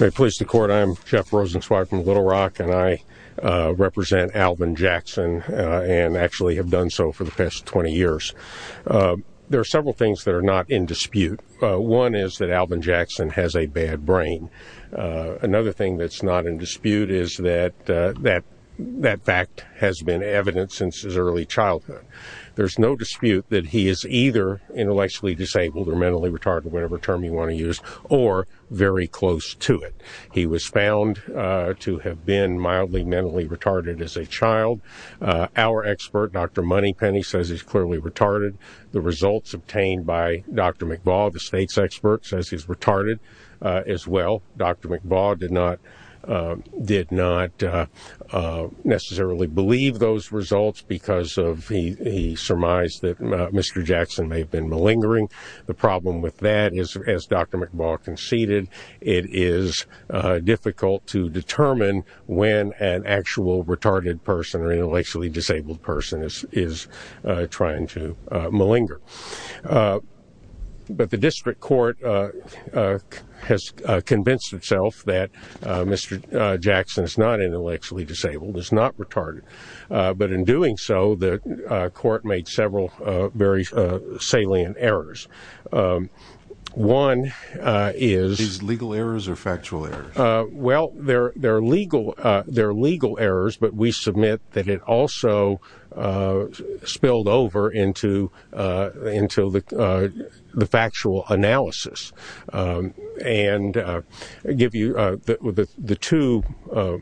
May it please the court, I'm Jeff Rosenzweig from Little Rock and I represent Alvin Jackson and actually have done so for the past 20 years. There are several things that are not in dispute. One is that Alvin Jackson has a bad brain. Another thing that's not in dispute is that that fact has been evident since his early childhood. There's no dispute that he is either intellectually disabled or mentally retarded, whatever term you want to use, or very close to it. He was found to have been mildly mentally retarded as a child. Our expert, Dr. Moneypenny, says he's clearly retarded. The results obtained by Dr. McBaw, the state's expert, says he's retarded as well. Dr. McBaw did not necessarily believe those results because he surmised that Mr. Jackson may have been malingering. The problem with that is, as Dr. McBaw conceded, it is difficult to determine when an actual retarded person or intellectually disabled person is trying to malinger. But the district court has convinced itself that Mr. Jackson is not intellectually disabled, is not retarded. But in doing so, the court made several very salient errors. One is... These legal errors or factual errors? Well, they're legal errors, but we submit that it also spilled over into the factual analysis. And I'll give you the two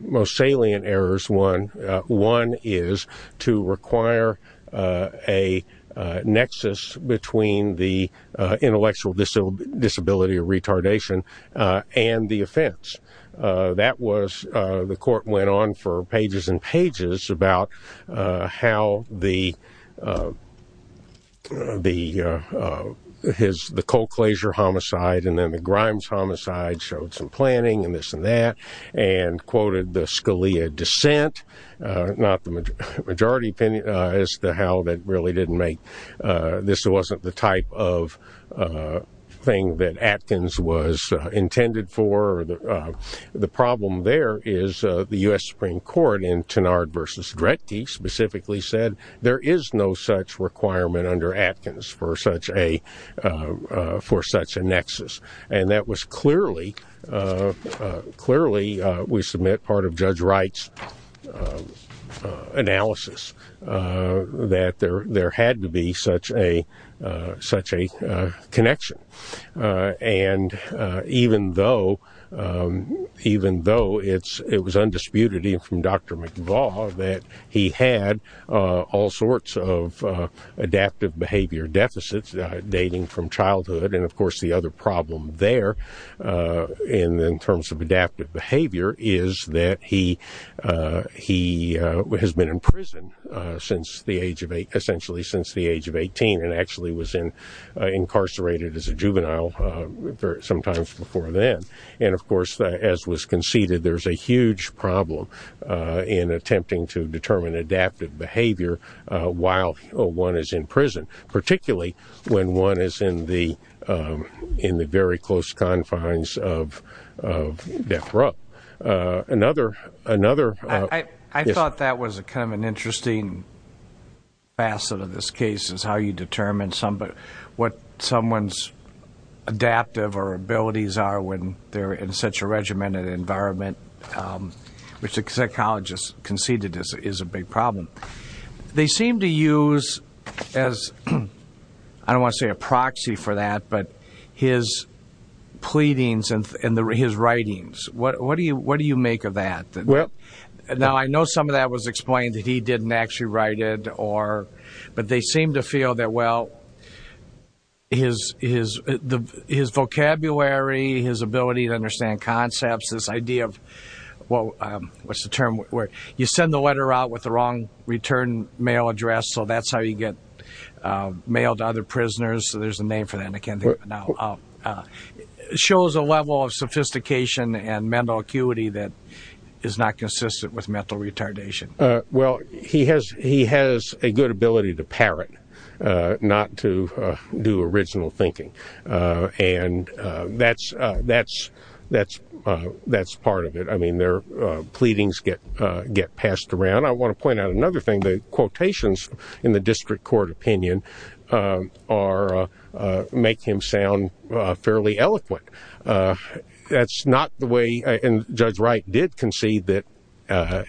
most salient errors. One is to require a nexus between the intellectual disability or retardation and the offense. That was... The court went on for pages and pages about how the... The Colclasure homicide and then the Grimes homicide showed some planning and this and that and quoted the Scalia dissent, not the majority opinion, as to how that really didn't make... This wasn't the type of thing that Atkins was intended for. The problem there is the U.S. Supreme Court in Tenard v. Drechty specifically said there is no such requirement under Atkins for such a nexus. And that was clearly... Clearly, we submit part of Judge Wright's analysis that there had to be such a connection. And even though it was undisputed from Dr. McLaugh that he had all sorts of adaptive behavior deficits dating from childhood and, of course, the other problem there in terms of adaptive behavior is that he has been in prison essentially since the age of 18 and actually was incarcerated as a juvenile sometimes before then. And, of course, as was conceded, there's a huge problem in attempting to determine adaptive behavior while one is in prison, particularly when one is in the very close confines of death row. Another... I thought that was kind of an interesting facet of this case is how you determine what someone's adaptive or abilities are when they're in such a regimented environment, which a psychologist conceded is a big problem. They seem to use as, I don't want to say a proxy for that, but his pleadings and his writings. What do you make of that? Now, I know some of that was explained that he didn't actually write it, but they seem to feel that, well, his vocabulary, his ability to understand concepts, this idea of... What's the term? You send the letter out with the wrong return mail address, so that's how you get mail to other prisoners. There's a name for that, and I can't think of it now. It shows a level of sophistication and mental acuity that is not consistent with mental retardation. Well, he has a good ability to parrot, not to do original thinking, and that's part of it. I mean, their pleadings get passed around. I want to point out another thing. The quotations in the district court opinion make him sound fairly eloquent. That's not the way... And Judge Wright did concede that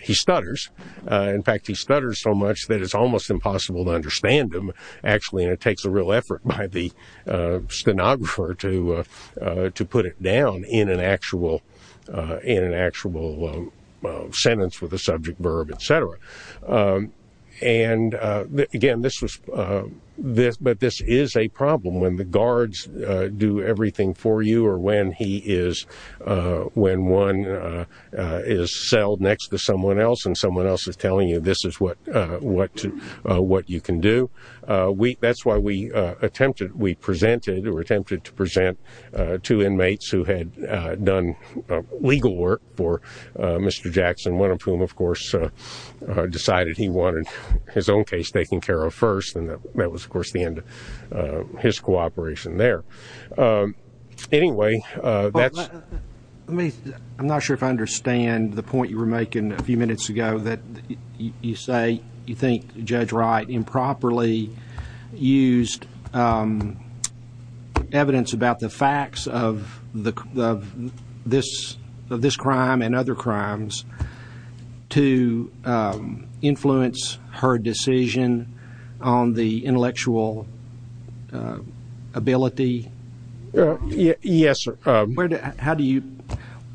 he stutters. In fact, he stutters so much that it's almost impossible to understand him, actually, and it takes a real effort by the stenographer to put it down in an actual sentence with a subject verb, et cetera. And again, this was... But this is a problem when the guards do everything for you or when one is settled next to someone else and someone else is telling you this is what you can do. That's why we presented or attempted to present two inmates who had done legal work for Mr. Jackson, one of whom, of course, decided he wanted his own case taken care of first, and that was, of course, the end of his cooperation there. Anyway, that's... I'm not sure if I understand the point you were making a few minutes ago that you say you think Judge Wright improperly used evidence about the facts of this crime and other crimes to influence her decision on the intellectual ability. Yes, sir. How do you...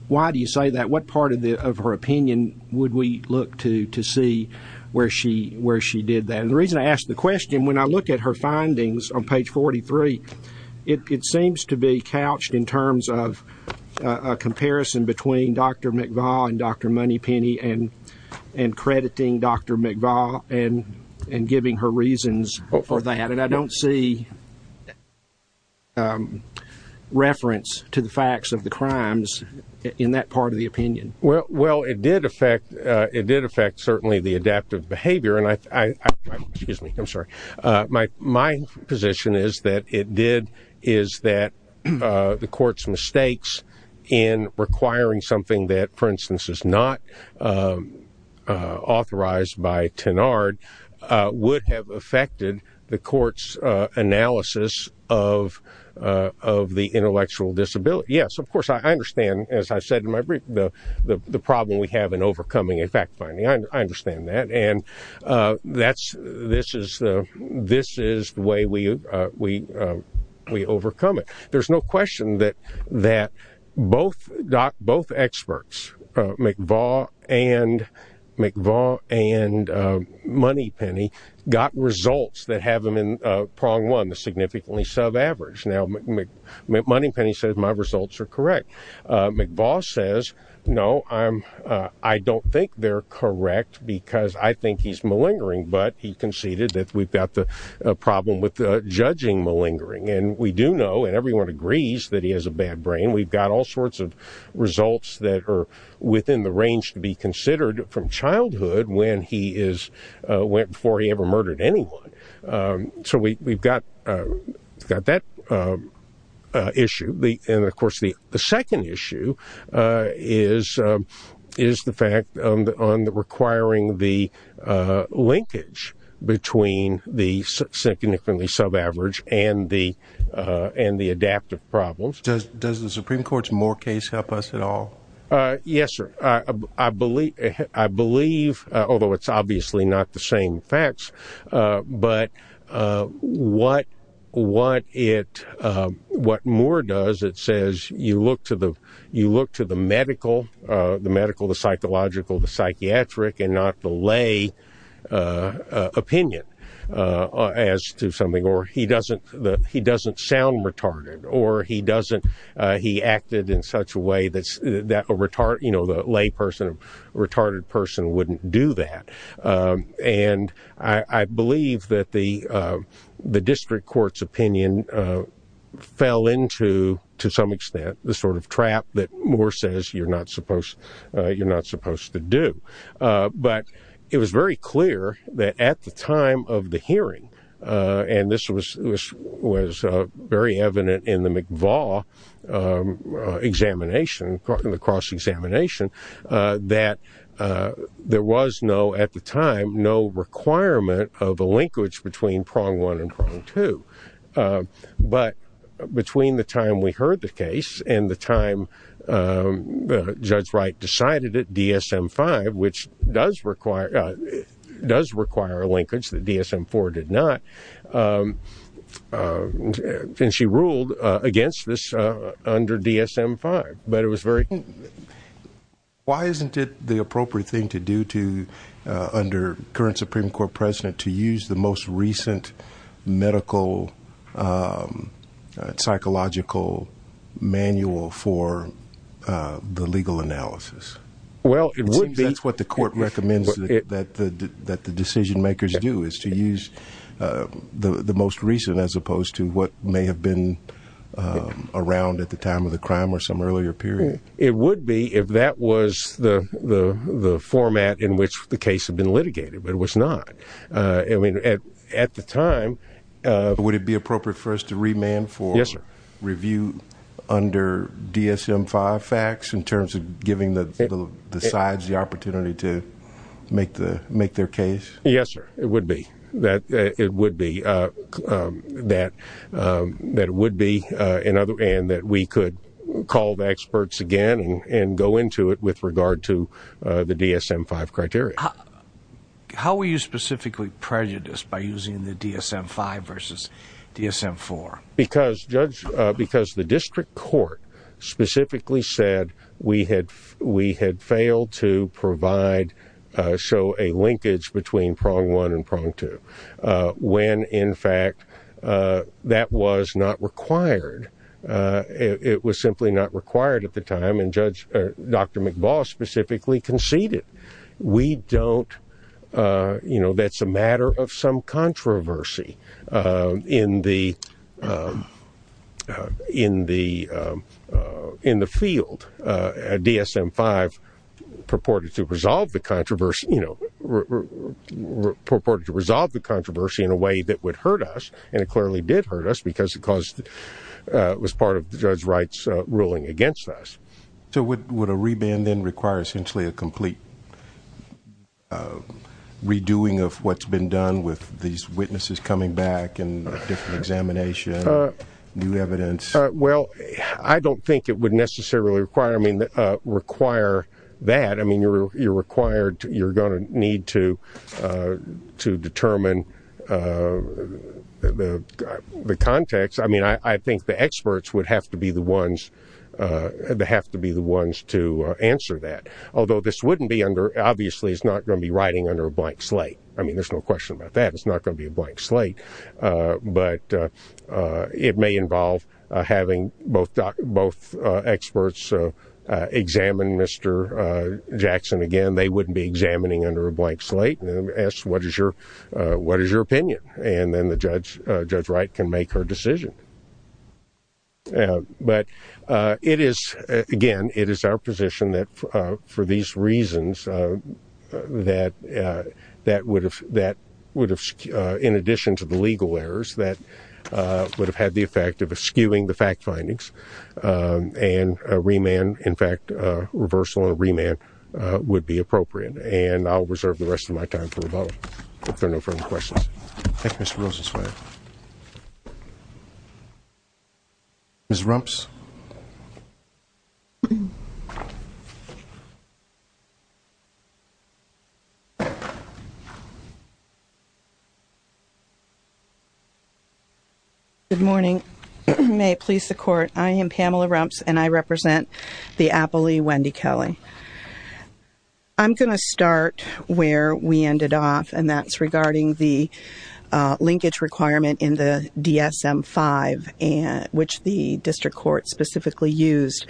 Why do you say that? What part of her opinion would we look to see where she did that? And the reason I ask the question, when I look at her findings on page 43, it seems to be couched in terms of a comparison between Dr. McVaugh and Dr. Moneypenny and crediting Dr. McVaugh and giving her reasons for that, and I don't see reference to the facts of the crimes in that part of the opinion. Well, it did affect certainly the adaptive behavior, and I... Excuse me. I'm sorry. My position is that it did... is that the court's mistakes in requiring something that, for instance, is not authorized by Tenard would have affected the court's analysis of the intellectual disability. Yes, of course, I understand, as I said in my brief, the problem we have in overcoming a fact finding. I understand that, and that's... This is the way we overcome it. There's no question that both experts, McVaugh and Moneypenny, got results that have them in prong one, the significantly sub-average. Now, Moneypenny says, my results are correct. McVaugh says, no, I don't think they're correct because I think he's malingering, but he conceded that we've got the problem with judging malingering. And we do know, and everyone agrees, that he has a bad brain. We've got all sorts of results that are within the range to be considered from childhood when he is... before he ever murdered anyone. So we've got that issue. And, of course, the second issue is the fact on requiring the linkage between the significantly sub-average and the adaptive problems. Does the Supreme Court's Moore case help us at all? Yes, sir. I believe, although it's obviously not the same facts, but what Moore does, it says, you look to the medical, the psychological, the psychiatric, and not the lay opinion as to something. Or he doesn't sound retarded, or he acted in such a way that a lay person, a retarded person wouldn't do that. And I believe that the district court's opinion fell into, to some extent, the sort of trap that Moore says you're not supposed to do. But it was very clear that at the time of the hearing, and this was very evident in the McVaugh examination, the cross-examination, that there was no, at the time, no requirement of a linkage between prong one and prong two. But between the time we heard the case and the time Judge Wright decided it, DSM-5, which does require a linkage that DSM-4 did not, and she ruled against this under DSM-5. But it was very... Why isn't it the appropriate thing to do to, under current Supreme Court president, to use the most recent medical, psychological manual for the legal analysis? It seems that's what the court recommends that the decision-makers do, is to use the most recent, as opposed to what may have been around at the time of the crime or some earlier period. It would be if that was the format in which the case had been litigated, but it was not. I mean, at the time... Would it be appropriate for us to remand for review under DSM-5 facts in terms of giving the sides the opportunity to make their case? Yes, sir, it would be. And that we could call the experts again and go into it with regard to the DSM-5 criteria. How were you specifically prejudiced by using the DSM-5 versus DSM-4? Because, Judge, because the district court specifically said we had failed to provide, show a linkage between prong one and prong two. When, in fact, that was not required. It was simply not required at the time, and Dr. McBall specifically conceded. We don't... You know, that's a matter of some controversy in the field. DSM-5 purported to resolve the controversy... purported to resolve the controversy in a way that would hurt us, and it clearly did hurt us, because it was part of Judge Wright's ruling against us. So would a remand then require essentially a complete redoing of what's been done with these witnesses coming back and a different examination, new evidence? Well, I don't think it would necessarily require that. I mean, you're required... You're going to need to determine the context. I mean, I think the experts would have to be the ones... have to be the ones to answer that, although this wouldn't be under... Obviously, it's not going to be writing under a blank slate. I mean, there's no question about that. It's not going to be a blank slate, but it may involve having both experts examine Mr. Jackson again. They wouldn't be examining under a blank slate and ask, what is your opinion? And then the judge, Judge Wright, can make her decision. But it is, again, it is our position that for these reasons, that would have, in addition to the legal errors, that would have had the effect of eschewing the fact findings and a remand, in fact, a reversal and a remand would be appropriate. And I'll reserve the rest of my time for rebuttal if there are no further questions. Thank you, Mr. Rosenzweig. Ms. Rumps? Good morning. May it please the Court, I am Pamela Rumps and I represent the Applee-Wendy Kelly. I'm going to start where we ended off, and that's regarding the linkage requirement in the DSM-5, which the district court specifically used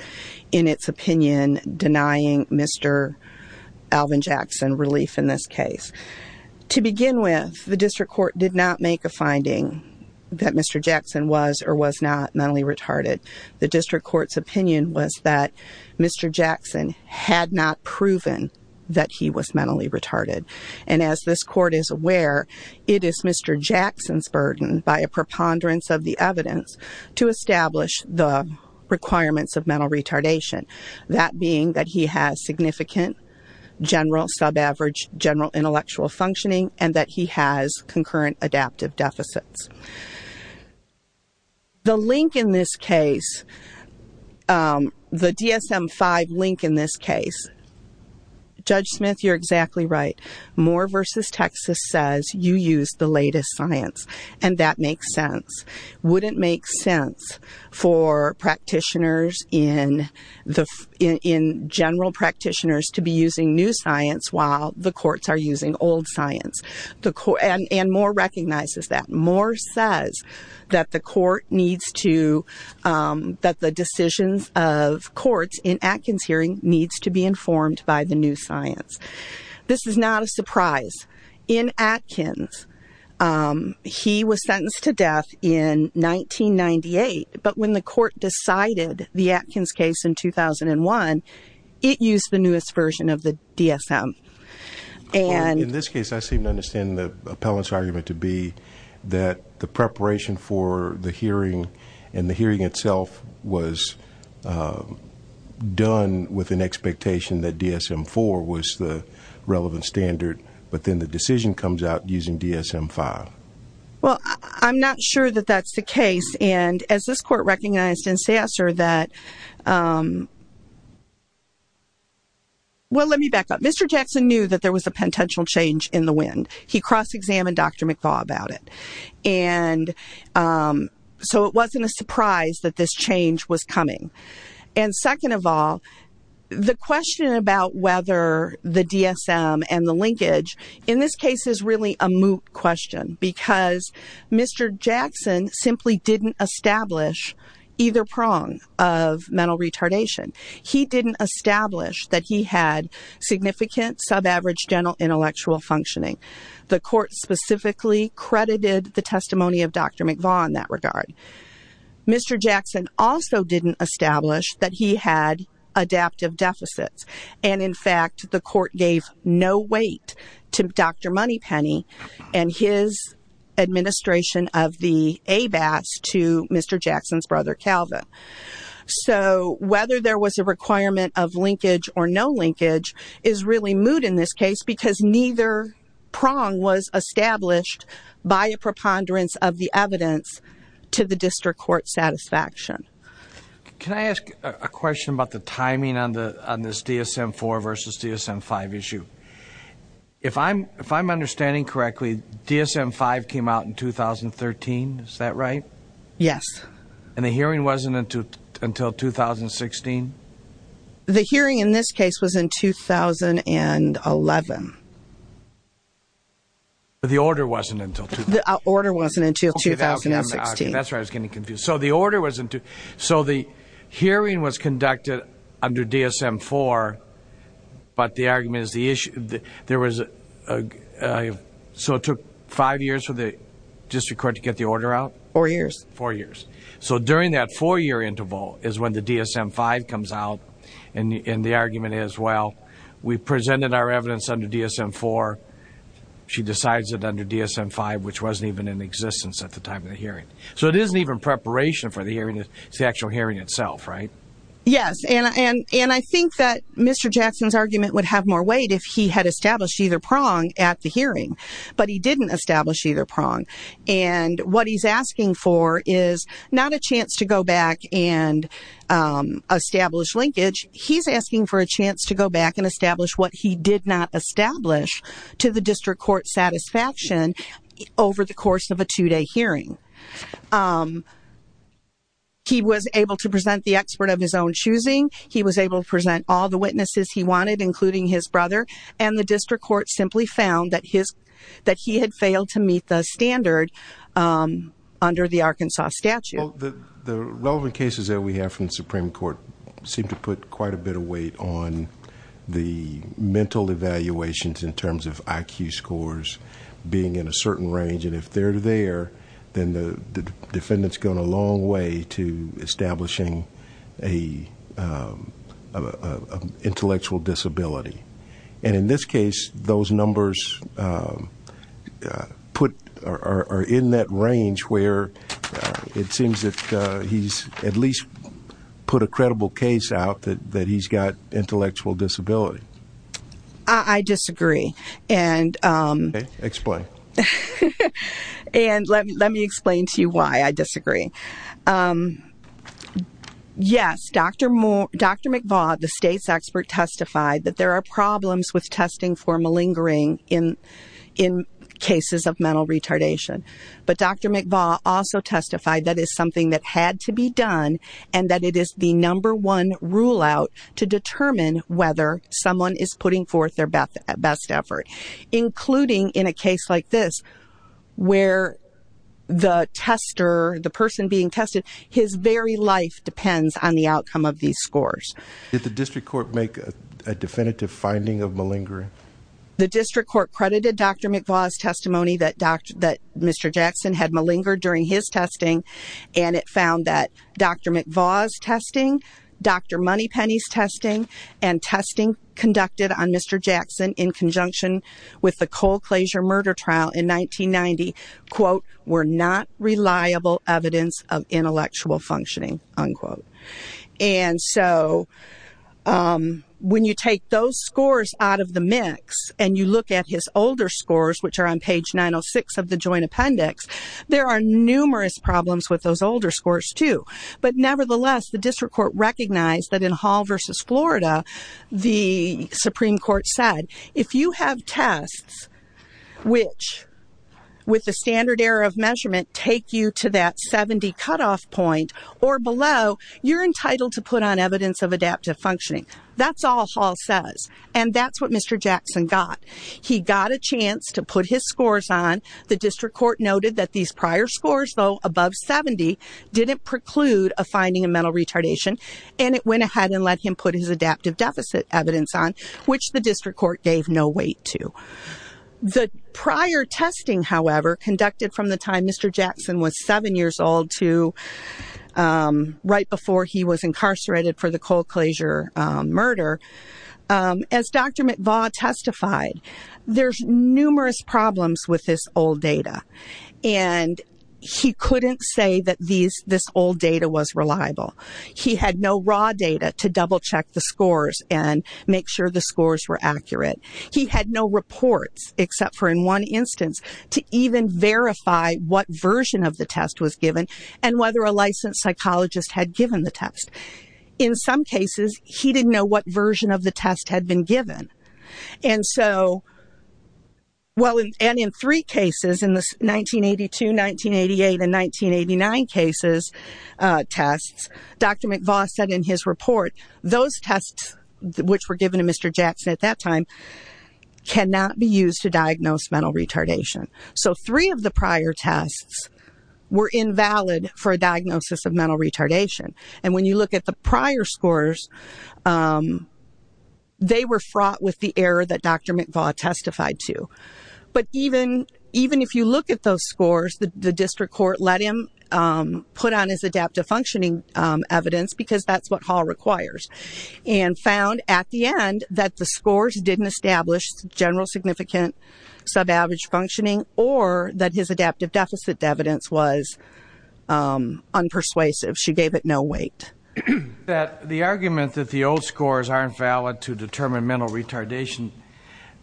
in its opinion, denying Mr. Alvin Jackson relief in this case. To begin with, the district court did not make a finding that Mr. Jackson was or was not mentally retarded. The district court's opinion was that Mr. Jackson had not proven that he was mentally retarded. And as this court is aware, it is Mr. Jackson's burden, by a preponderance of the evidence, to establish the requirements of mental retardation, that being that he has significant general, sub-average, general intellectual functioning and that he has concurrent adaptive deficits. The link in this case, the DSM-5 link in this case, Judge Smith, you're exactly right. Moore v. Texas says you used the latest science, and that makes sense. Would it make sense for practitioners, in general practitioners, to be using new science while the courts are using old science? And Moore recognizes that. Moore says that the decisions of courts in Atkins hearing needs to be informed by the new science. This is not a surprise. In Atkins, he was sentenced to death in 1998, but when the court decided the Atkins case in 2001, it used the newest version of the DSM. In this case, I seem to understand the appellant's argument to be that the preparation for the hearing and the hearing itself was done with an expectation that DSM-4 was the relevant standard, but then the decision comes out using DSM-5. Well, I'm not sure that that's the case. And as this court recognized in Sasser that... Well, let me back up. Mr. Jackson knew that there was a potential change in the wind. He cross-examined Dr. McFaul about it. And so it wasn't a surprise that this change was coming. And second of all, the question about whether the DSM and the linkage in this case is really a moot question because Mr. Jackson simply didn't establish either prong of mental retardation. He didn't establish that he had significant, sub-average general intellectual functioning. The court specifically credited the testimony of Dr. McFaul in that regard. Mr. Jackson also didn't establish that he had adaptive deficits. And in fact, the court gave no weight to Dr. Moneypenny and his administration of the ABAS to Mr. Jackson's brother, Calvin. So whether there was a requirement of linkage or no linkage is really moot in this case because neither prong was established by a preponderance of the evidence to the district court's satisfaction. Can I ask a question about the timing on this DSM-4 versus DSM-5 issue? If I'm understanding correctly, DSM-5 came out in 2013. Is that right? Yes. And the hearing wasn't until 2016? The hearing in this case was in 2011. But the order wasn't until 2016? The order wasn't until 2016. That's right, I was getting confused. So the hearing was conducted under DSM-4, but the argument is there was a... So it took five years for the district court to get the order out? Four years. Four years. So during that four-year interval is when the DSM-5 comes out, and the argument is, well, we presented our evidence under DSM-4, she decides it under DSM-5, which wasn't even in existence at the time of the hearing. So it isn't even preparation for the hearing, it's the actual hearing itself, right? Yes. And I think that Mr. Jackson's argument would have more weight if he had established either prong at the hearing, but he didn't establish either prong. And what he's asking for is not a chance to go back and establish linkage, he's asking for a chance to go back and establish what he did not establish to the district court's satisfaction over the course of a two-day hearing. He was able to present the expert of his own choosing, he was able to present all the witnesses he wanted, including his brother, and the district court simply found that he had failed to meet the standard under the Arkansas statute. The relevant cases that we have from the Supreme Court seem to put quite a bit of weight on the mental evaluations in terms of IQ scores being in a certain range, and if they're there, then the defendant's gone a long way to establishing an intellectual disability. And in this case, those numbers are in that range where it seems that he's at least put a credible case out that he's got intellectual disability. I disagree. Okay, explain. And let me explain to you why I disagree. Yes, Dr. McVaugh, the state's expert, testified that there are problems with testing for malingering in cases of mental retardation, but Dr. McVaugh also testified that it's something that had to be done and that it is the number one rule-out to determine whether someone is putting forth their best effort, including in a case like this where the tester, the person being tested, his very life depends on the outcome of these scores. Did the district court make a definitive finding of malingering? The district court credited Dr. McVaugh's testimony that Mr. Jackson had malingered during his testing, and it found that Dr. McVaugh's testing, Dr. Moneypenny's testing, and testing conducted on Mr. Jackson in conjunction with the Cole-Klaser murder trial in 1990, quote, were not reliable evidence of intellectual functioning, unquote. And so when you take those scores out of the mix and you look at his older scores, which are on page 906 of the Joint Appendix, there are numerous problems with those older scores, too. But nevertheless, the district court recognized that in Hall v. Florida, the Supreme Court said if you have tests which, with the standard error of measurement, take you to that 70 cutoff point or below, you're entitled to put on evidence of adaptive functioning. That's all Hall says, and that's what Mr. Jackson got. He got a chance to put his scores on. The district court noted that these prior scores, though above 70, didn't preclude a finding of mental retardation, and it went ahead and let him put his adaptive deficit evidence on, which the district court gave no weight to. The prior testing, however, conducted from the time Mr. Jackson was 7 years old right before he was incarcerated for the Cole-Klaser murder, as Dr. McVaugh testified, there's numerous problems with this old data. And he couldn't say that this old data was reliable. He had no raw data to double-check the scores and make sure the scores were accurate. He had no reports, except for in one instance, to even verify what version of the test was given and whether a licensed psychologist had given the test. In some cases, he didn't know what version of the test had been given. And so, well, and in three cases, in the 1982, 1988, and 1989 tests, Dr. McVaugh said in his report, those tests which were given to Mr. Jackson at that time cannot be used to diagnose mental retardation. So three of the prior tests were invalid for a diagnosis of mental retardation. And when you look at the prior scores, they were fraught with the error that Dr. McVaugh testified to. But even if you look at those scores, the district court let him put on his adaptive functioning evidence because that's what Hall requires, and found at the end that the scores didn't establish general significant subaverage functioning or that his adaptive deficit evidence was unpersuasive. She gave it no weight. The argument that the old scores aren't valid to determine mental retardation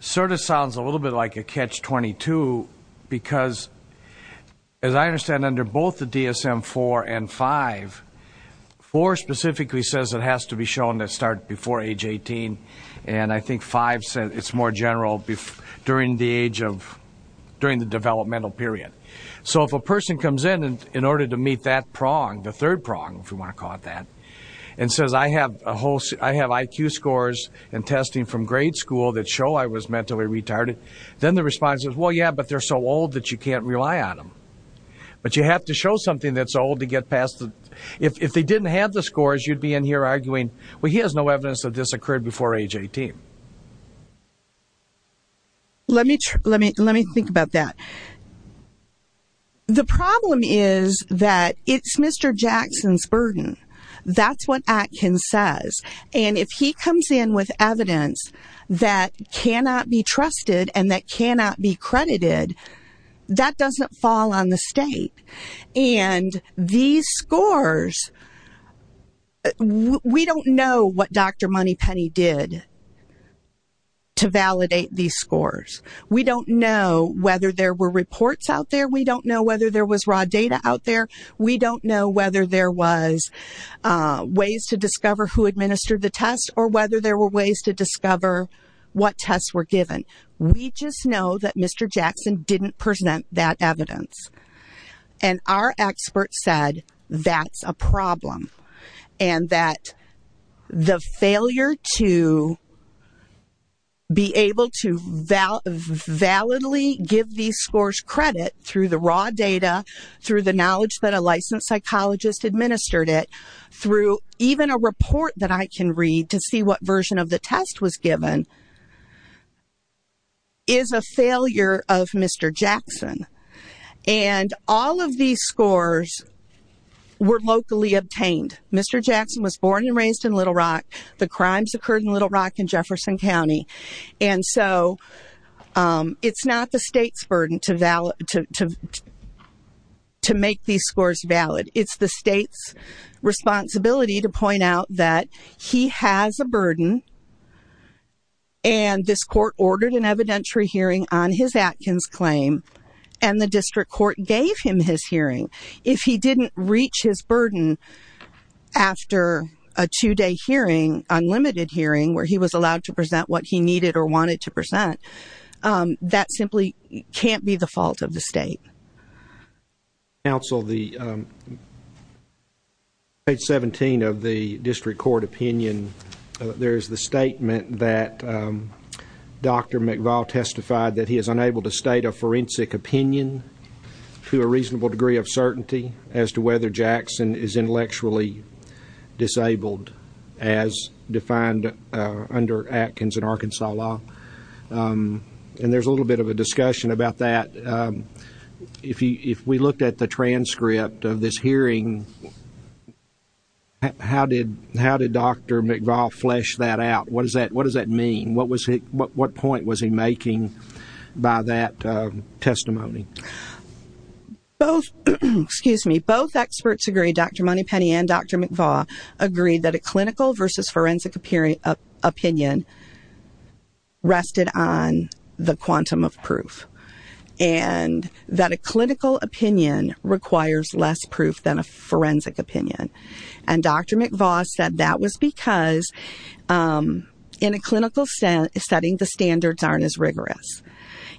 sort of sounds a little bit like a Catch-22 because, as I understand, under both the DSM-IV and V, IV specifically says it has to be shown to start before age 18, and I think V says it's more general during the developmental period. So if a person comes in in order to meet that prong, the third prong, if you want to call it that, and says, I have IQ scores and testing from grade school that show I was mentally retarded, then the response is, well, yeah, but they're so old that you can't rely on them. But you have to show something that's old to get past. If they didn't have the scores, you'd be in here arguing, well, he has no evidence that this occurred before age 18. Let me think about that. The problem is that it's Mr. Jackson's burden. That's what Atkins says. And if he comes in with evidence that cannot be trusted and that cannot be credited, that doesn't fall on the state. And these scores, we don't know what Dr. Moneypenny did to validate these scores. We don't know whether there were reports out there. We don't know whether there was raw data out there. We don't know whether there was ways to discover who administered the test or whether there were ways to discover what tests were given. We just know that Mr. Jackson didn't present that evidence. And our experts said that's a problem and that the failure to be able to validly give these scores credit through the raw data, through the knowledge that a licensed psychologist administered it, through even a report that I can read to see what version of the test was given, is a failure of Mr. Jackson. And all of these scores were locally obtained. Mr. Jackson was born and raised in Little Rock. The crimes occurred in Little Rock and Jefferson County. And so it's not the state's burden to make these scores valid. It's the state's responsibility to point out that he has a burden and this court ordered an evidentiary hearing on his Atkins claim and the district court gave him his hearing. If he didn't reach his burden after a two-day hearing, unlimited hearing, where he was allowed to present what he needed or wanted to present, that simply can't be the fault of the state. Counsel, on page 17 of the district court opinion, there is the statement that Dr. McVall testified that he is unable to state a forensic opinion to a reasonable degree of certainty as to whether Jackson is intellectually disabled as defined under Atkins and Arkansas law. And there's a little bit of a discussion about that. If we looked at the transcript of this hearing, how did Dr. McVall flesh that out? What does that mean? What point was he making by that testimony? Both experts agree, Dr. Moneypenny and Dr. McVall, agree that a clinical versus forensic opinion rested on the quantum of proof and that a clinical opinion requires less proof than a forensic opinion. And Dr. McVall said that was because in a clinical setting, the standards aren't as rigorous.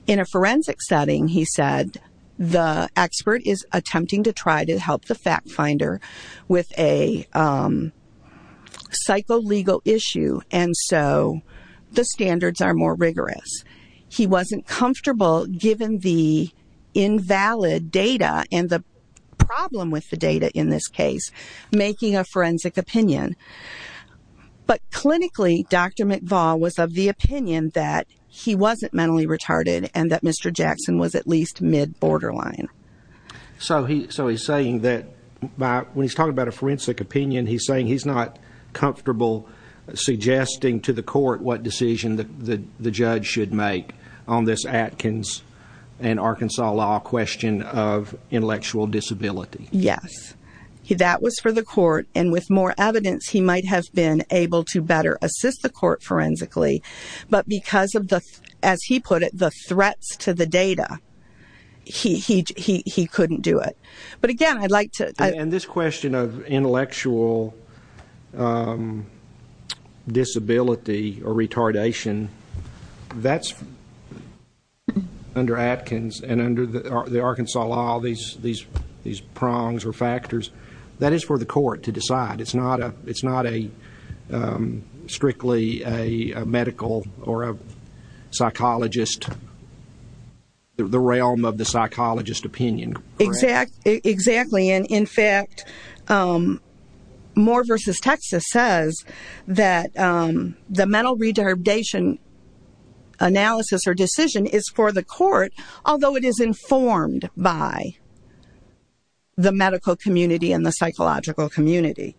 In a forensic setting, he said, the expert is attempting to try to help the fact finder with a psycholegal issue, and so the standards are more rigorous. He wasn't comfortable, given the invalid data and the problem with the data in this case, making a forensic opinion. But clinically, Dr. McVall was of the opinion that he wasn't mentally retarded and that Mr. Jackson was at least mid-borderline. So he's saying that when he's talking about a forensic opinion, he's saying he's not comfortable suggesting to the court what decision the judge should make on this Atkins and Arkansas law question of intellectual disability. Yes. That was for the court, and with more evidence, he might have been able to better assist the court forensically, but because of, as he put it, the threats to the data, he couldn't do it. But again, I'd like to... And this question of intellectual disability or retardation, that's under Atkins and under the Arkansas law, these prongs or factors, that is for the court to decide. It's not strictly a medical or a psychologist, the realm of the psychologist opinion, correct? Exactly. And in fact, Moore v. Texas says that the mental retardation analysis or decision is for the court, although it is informed by the medical community and the psychological community.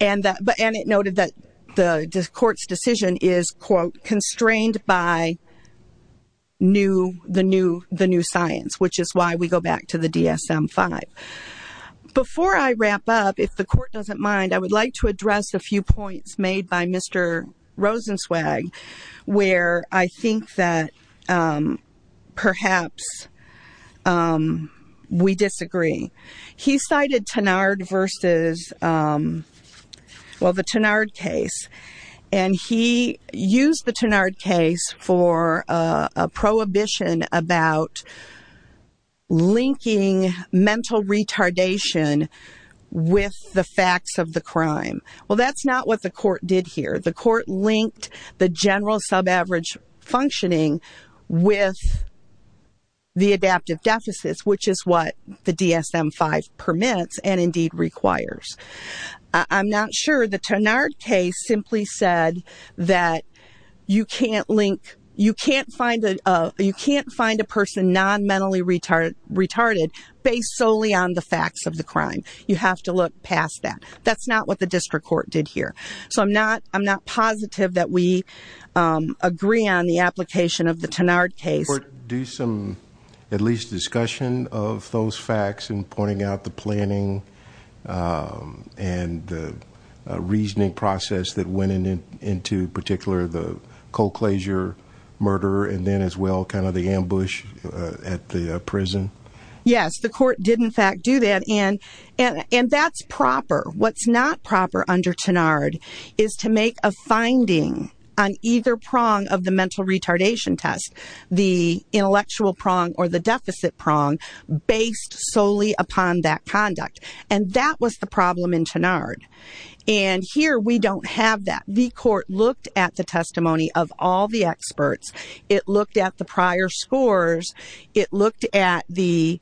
And it noted that the court's decision is, quote, Before I wrap up, if the court doesn't mind, I would like to address a few points made by Mr. Rosenzweig where I think that perhaps we disagree. He cited Tenard v.... Well, the Tenard case, and he used the Tenard case for a prohibition about linking mental retardation with the facts of the crime. Well, that's not what the court did here. The court linked the general subaverage functioning with the adaptive deficits, which is what the DSM-5 permits and indeed requires. I'm not sure. The Tenard case simply said that you can't link, you can't find a person non-mentally retarded based solely on the facts of the crime. You have to look past that. That's not what the district court did here. So I'm not positive that we agree on the application of the Tenard case. Do some at least discussion of those facts and pointing out the planning and the reasoning process that went into particular the cold-closure murder and then as well kind of the ambush at the prison? Yes, the court did in fact do that, and that's proper. What's not proper under Tenard is to make a finding on either prong of the mental retardation test, the intellectual prong or the deficit prong, based solely upon that conduct. And that was the problem in Tenard. And here we don't have that. The court looked at the testimony of all the experts. It looked at the prior scores. It looked at the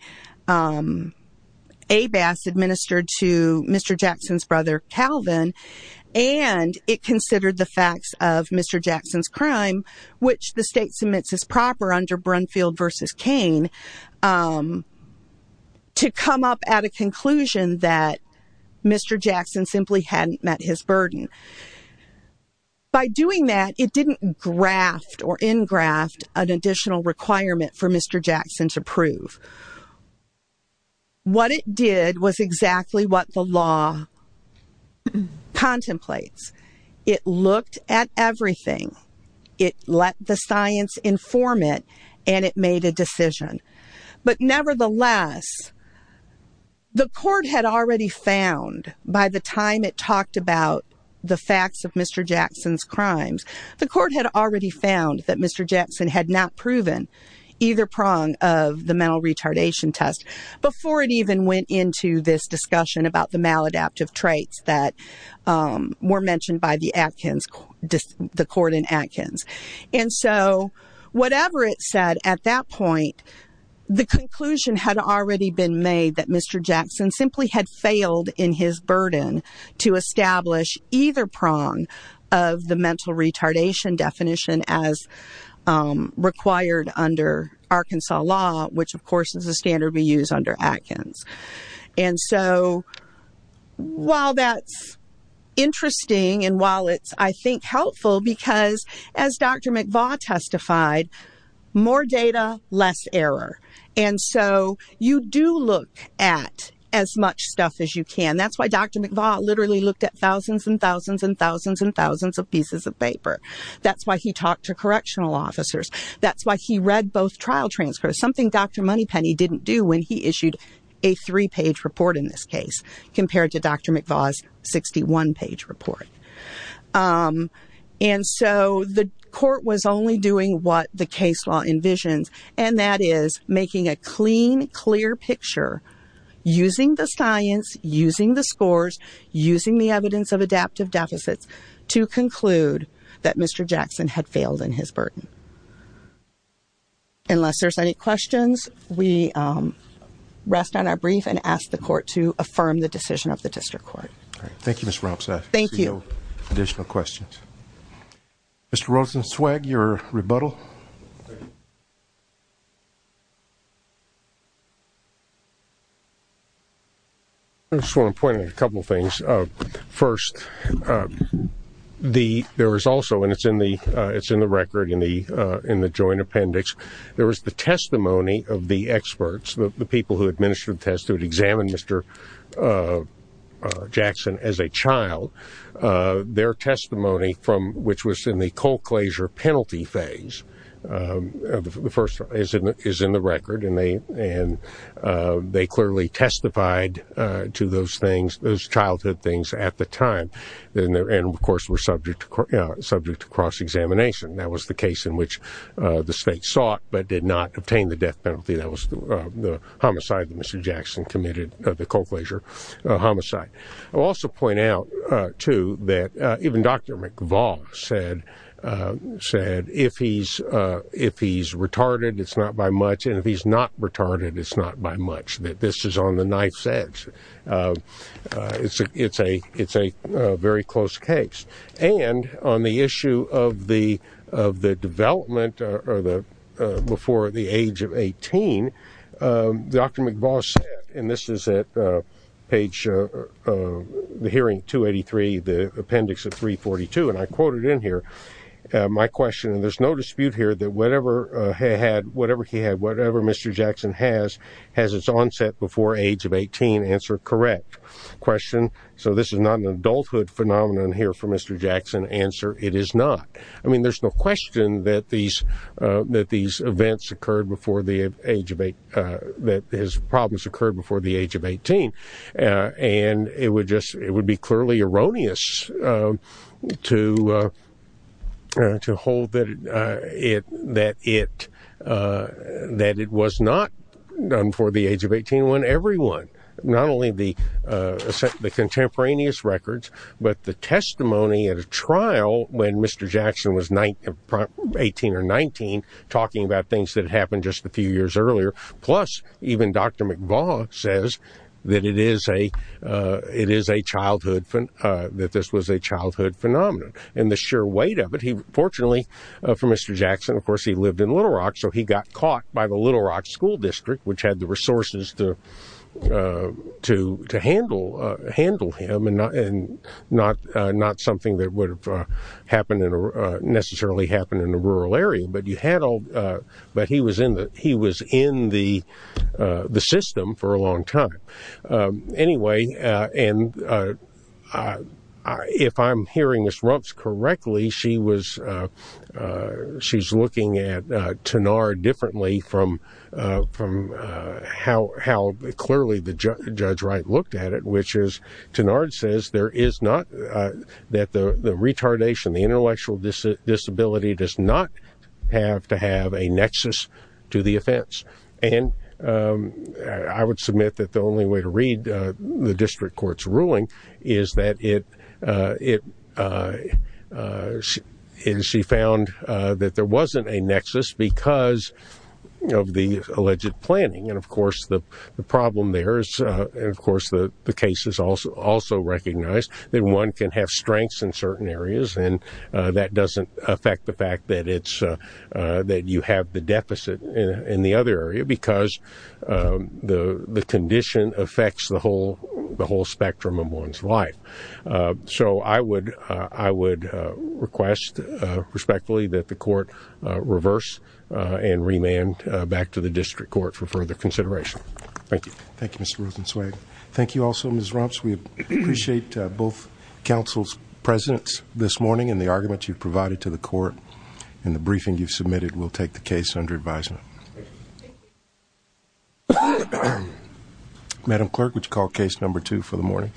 ABAS administered to Mr. Jackson's brother Calvin, and it considered the facts of Mr. Jackson's crime, which the state submits as proper under Brunfield v. Cain, to come up at a conclusion that Mr. Jackson simply hadn't met his burden. By doing that, it didn't graft or engraft an additional requirement for Mr. Jackson to prove. What it did was exactly what the law contemplates. It looked at everything. It let the science inform it, and it made a decision. But nevertheless, the court had already found, by the time it talked about the facts of Mr. Jackson's crimes, the court had already found that Mr. Jackson had not proven either prong of the mental retardation test before it even went into this discussion about the maladaptive traits that were mentioned by the court in Atkins. And so whatever it said at that point, the conclusion had already been made that Mr. Jackson simply had failed in his burden to establish either prong of the mental retardation definition as required under Arkansas law, which, of course, is the standard we use under Atkins. And so while that's interesting and while it's, I think, helpful, because as Dr. McVaugh testified, more data, less error. And so you do look at as much stuff as you can. That's why Dr. McVaugh literally looked at thousands and thousands and thousands and thousands of pieces of paper. That's why he talked to correctional officers. That's why he read both trial transcripts, which is something Dr. Moneypenny didn't do when he issued a three-page report in this case compared to Dr. McVaugh's 61-page report. And so the court was only doing what the case law envisions, and that is making a clean, clear picture using the science, using the scores, using the evidence of adaptive deficits to conclude that Mr. Jackson had failed in his burden. Unless there's any questions, we rest on our brief and ask the court to affirm the decision of the district court. All right. Thank you, Ms. Rompstad. Thank you. No additional questions. Mr. Rosenzweig, your rebuttal. I just want to point out a couple of things. First, there was also, and it's in the record in the joint appendix, there was the testimony of the experts, the people who administered the test, who had examined Mr. Jackson as a child. Their testimony, which was in the co-closure penalty phase, is in the record, and they clearly testified to those childhood things at the time and, of course, were subject to cross-examination. That was the case in which the state sought but did not obtain the death penalty. That was the homicide that Mr. Jackson committed, the co-closure homicide. I'll also point out, too, that even Dr. McVaugh said, if he's retarded, it's not by much, and if he's not retarded, it's not by much, that this is on the knife's edge. It's a very close case. And on the issue of the development before the age of 18, Dr. McVaugh said, and this is at page, the hearing 283, the appendix of 342, and I quote it in here, my question, and there's no dispute here that whatever he had, whatever Mr. Jackson has, has its onset before age of 18. Answer, correct. Question, so this is not an adulthood phenomenon here for Mr. Jackson. Answer, it is not. I mean, there's no question that these events occurred before the age of 18, that his problems occurred before the age of 18, and it would be clearly erroneous to hold that it was not done before the age of 18 when everyone, not only the contemporaneous records, but the testimony at a trial when Mr. Jackson was 18 or 19, talking about things that had happened just a few years earlier, plus even Dr. McVaugh says that it is a childhood, that this was a childhood phenomenon. And the sheer weight of it, fortunately for Mr. Jackson, of course, he lived in Little Rock, so he got caught by the Little Rock School District, which had the resources to handle him, and not something that would have necessarily happened in a rural area, but he was in the system for a long time. Anyway, and if I'm hearing Ms. Rumps correctly, she's looking at Tanard differently from how clearly Judge Wright looked at it, which is Tanard says there is not, that the retardation, the intellectual disability does not have to have a nexus to the offense. And I would submit that the only way to read the district court's ruling is that it, and she found that there wasn't a nexus because of the alleged planning, and of course the problem there is, and of course the case is also recognized, that one can have strengths in certain areas and that doesn't affect the fact that you have the deficit in the other area because the condition affects the whole spectrum of one's life. So I would request respectfully that the court reverse and remand back to the district court for further consideration. Thank you. Thank you, Mr. Rosenzweig. Thank you also, Ms. Rumps. We appreciate both counsel's presence this morning and the arguments you've provided to the court. And the briefing you've submitted will take the case under advisement. Madam Clerk, would you call case number two for the morning?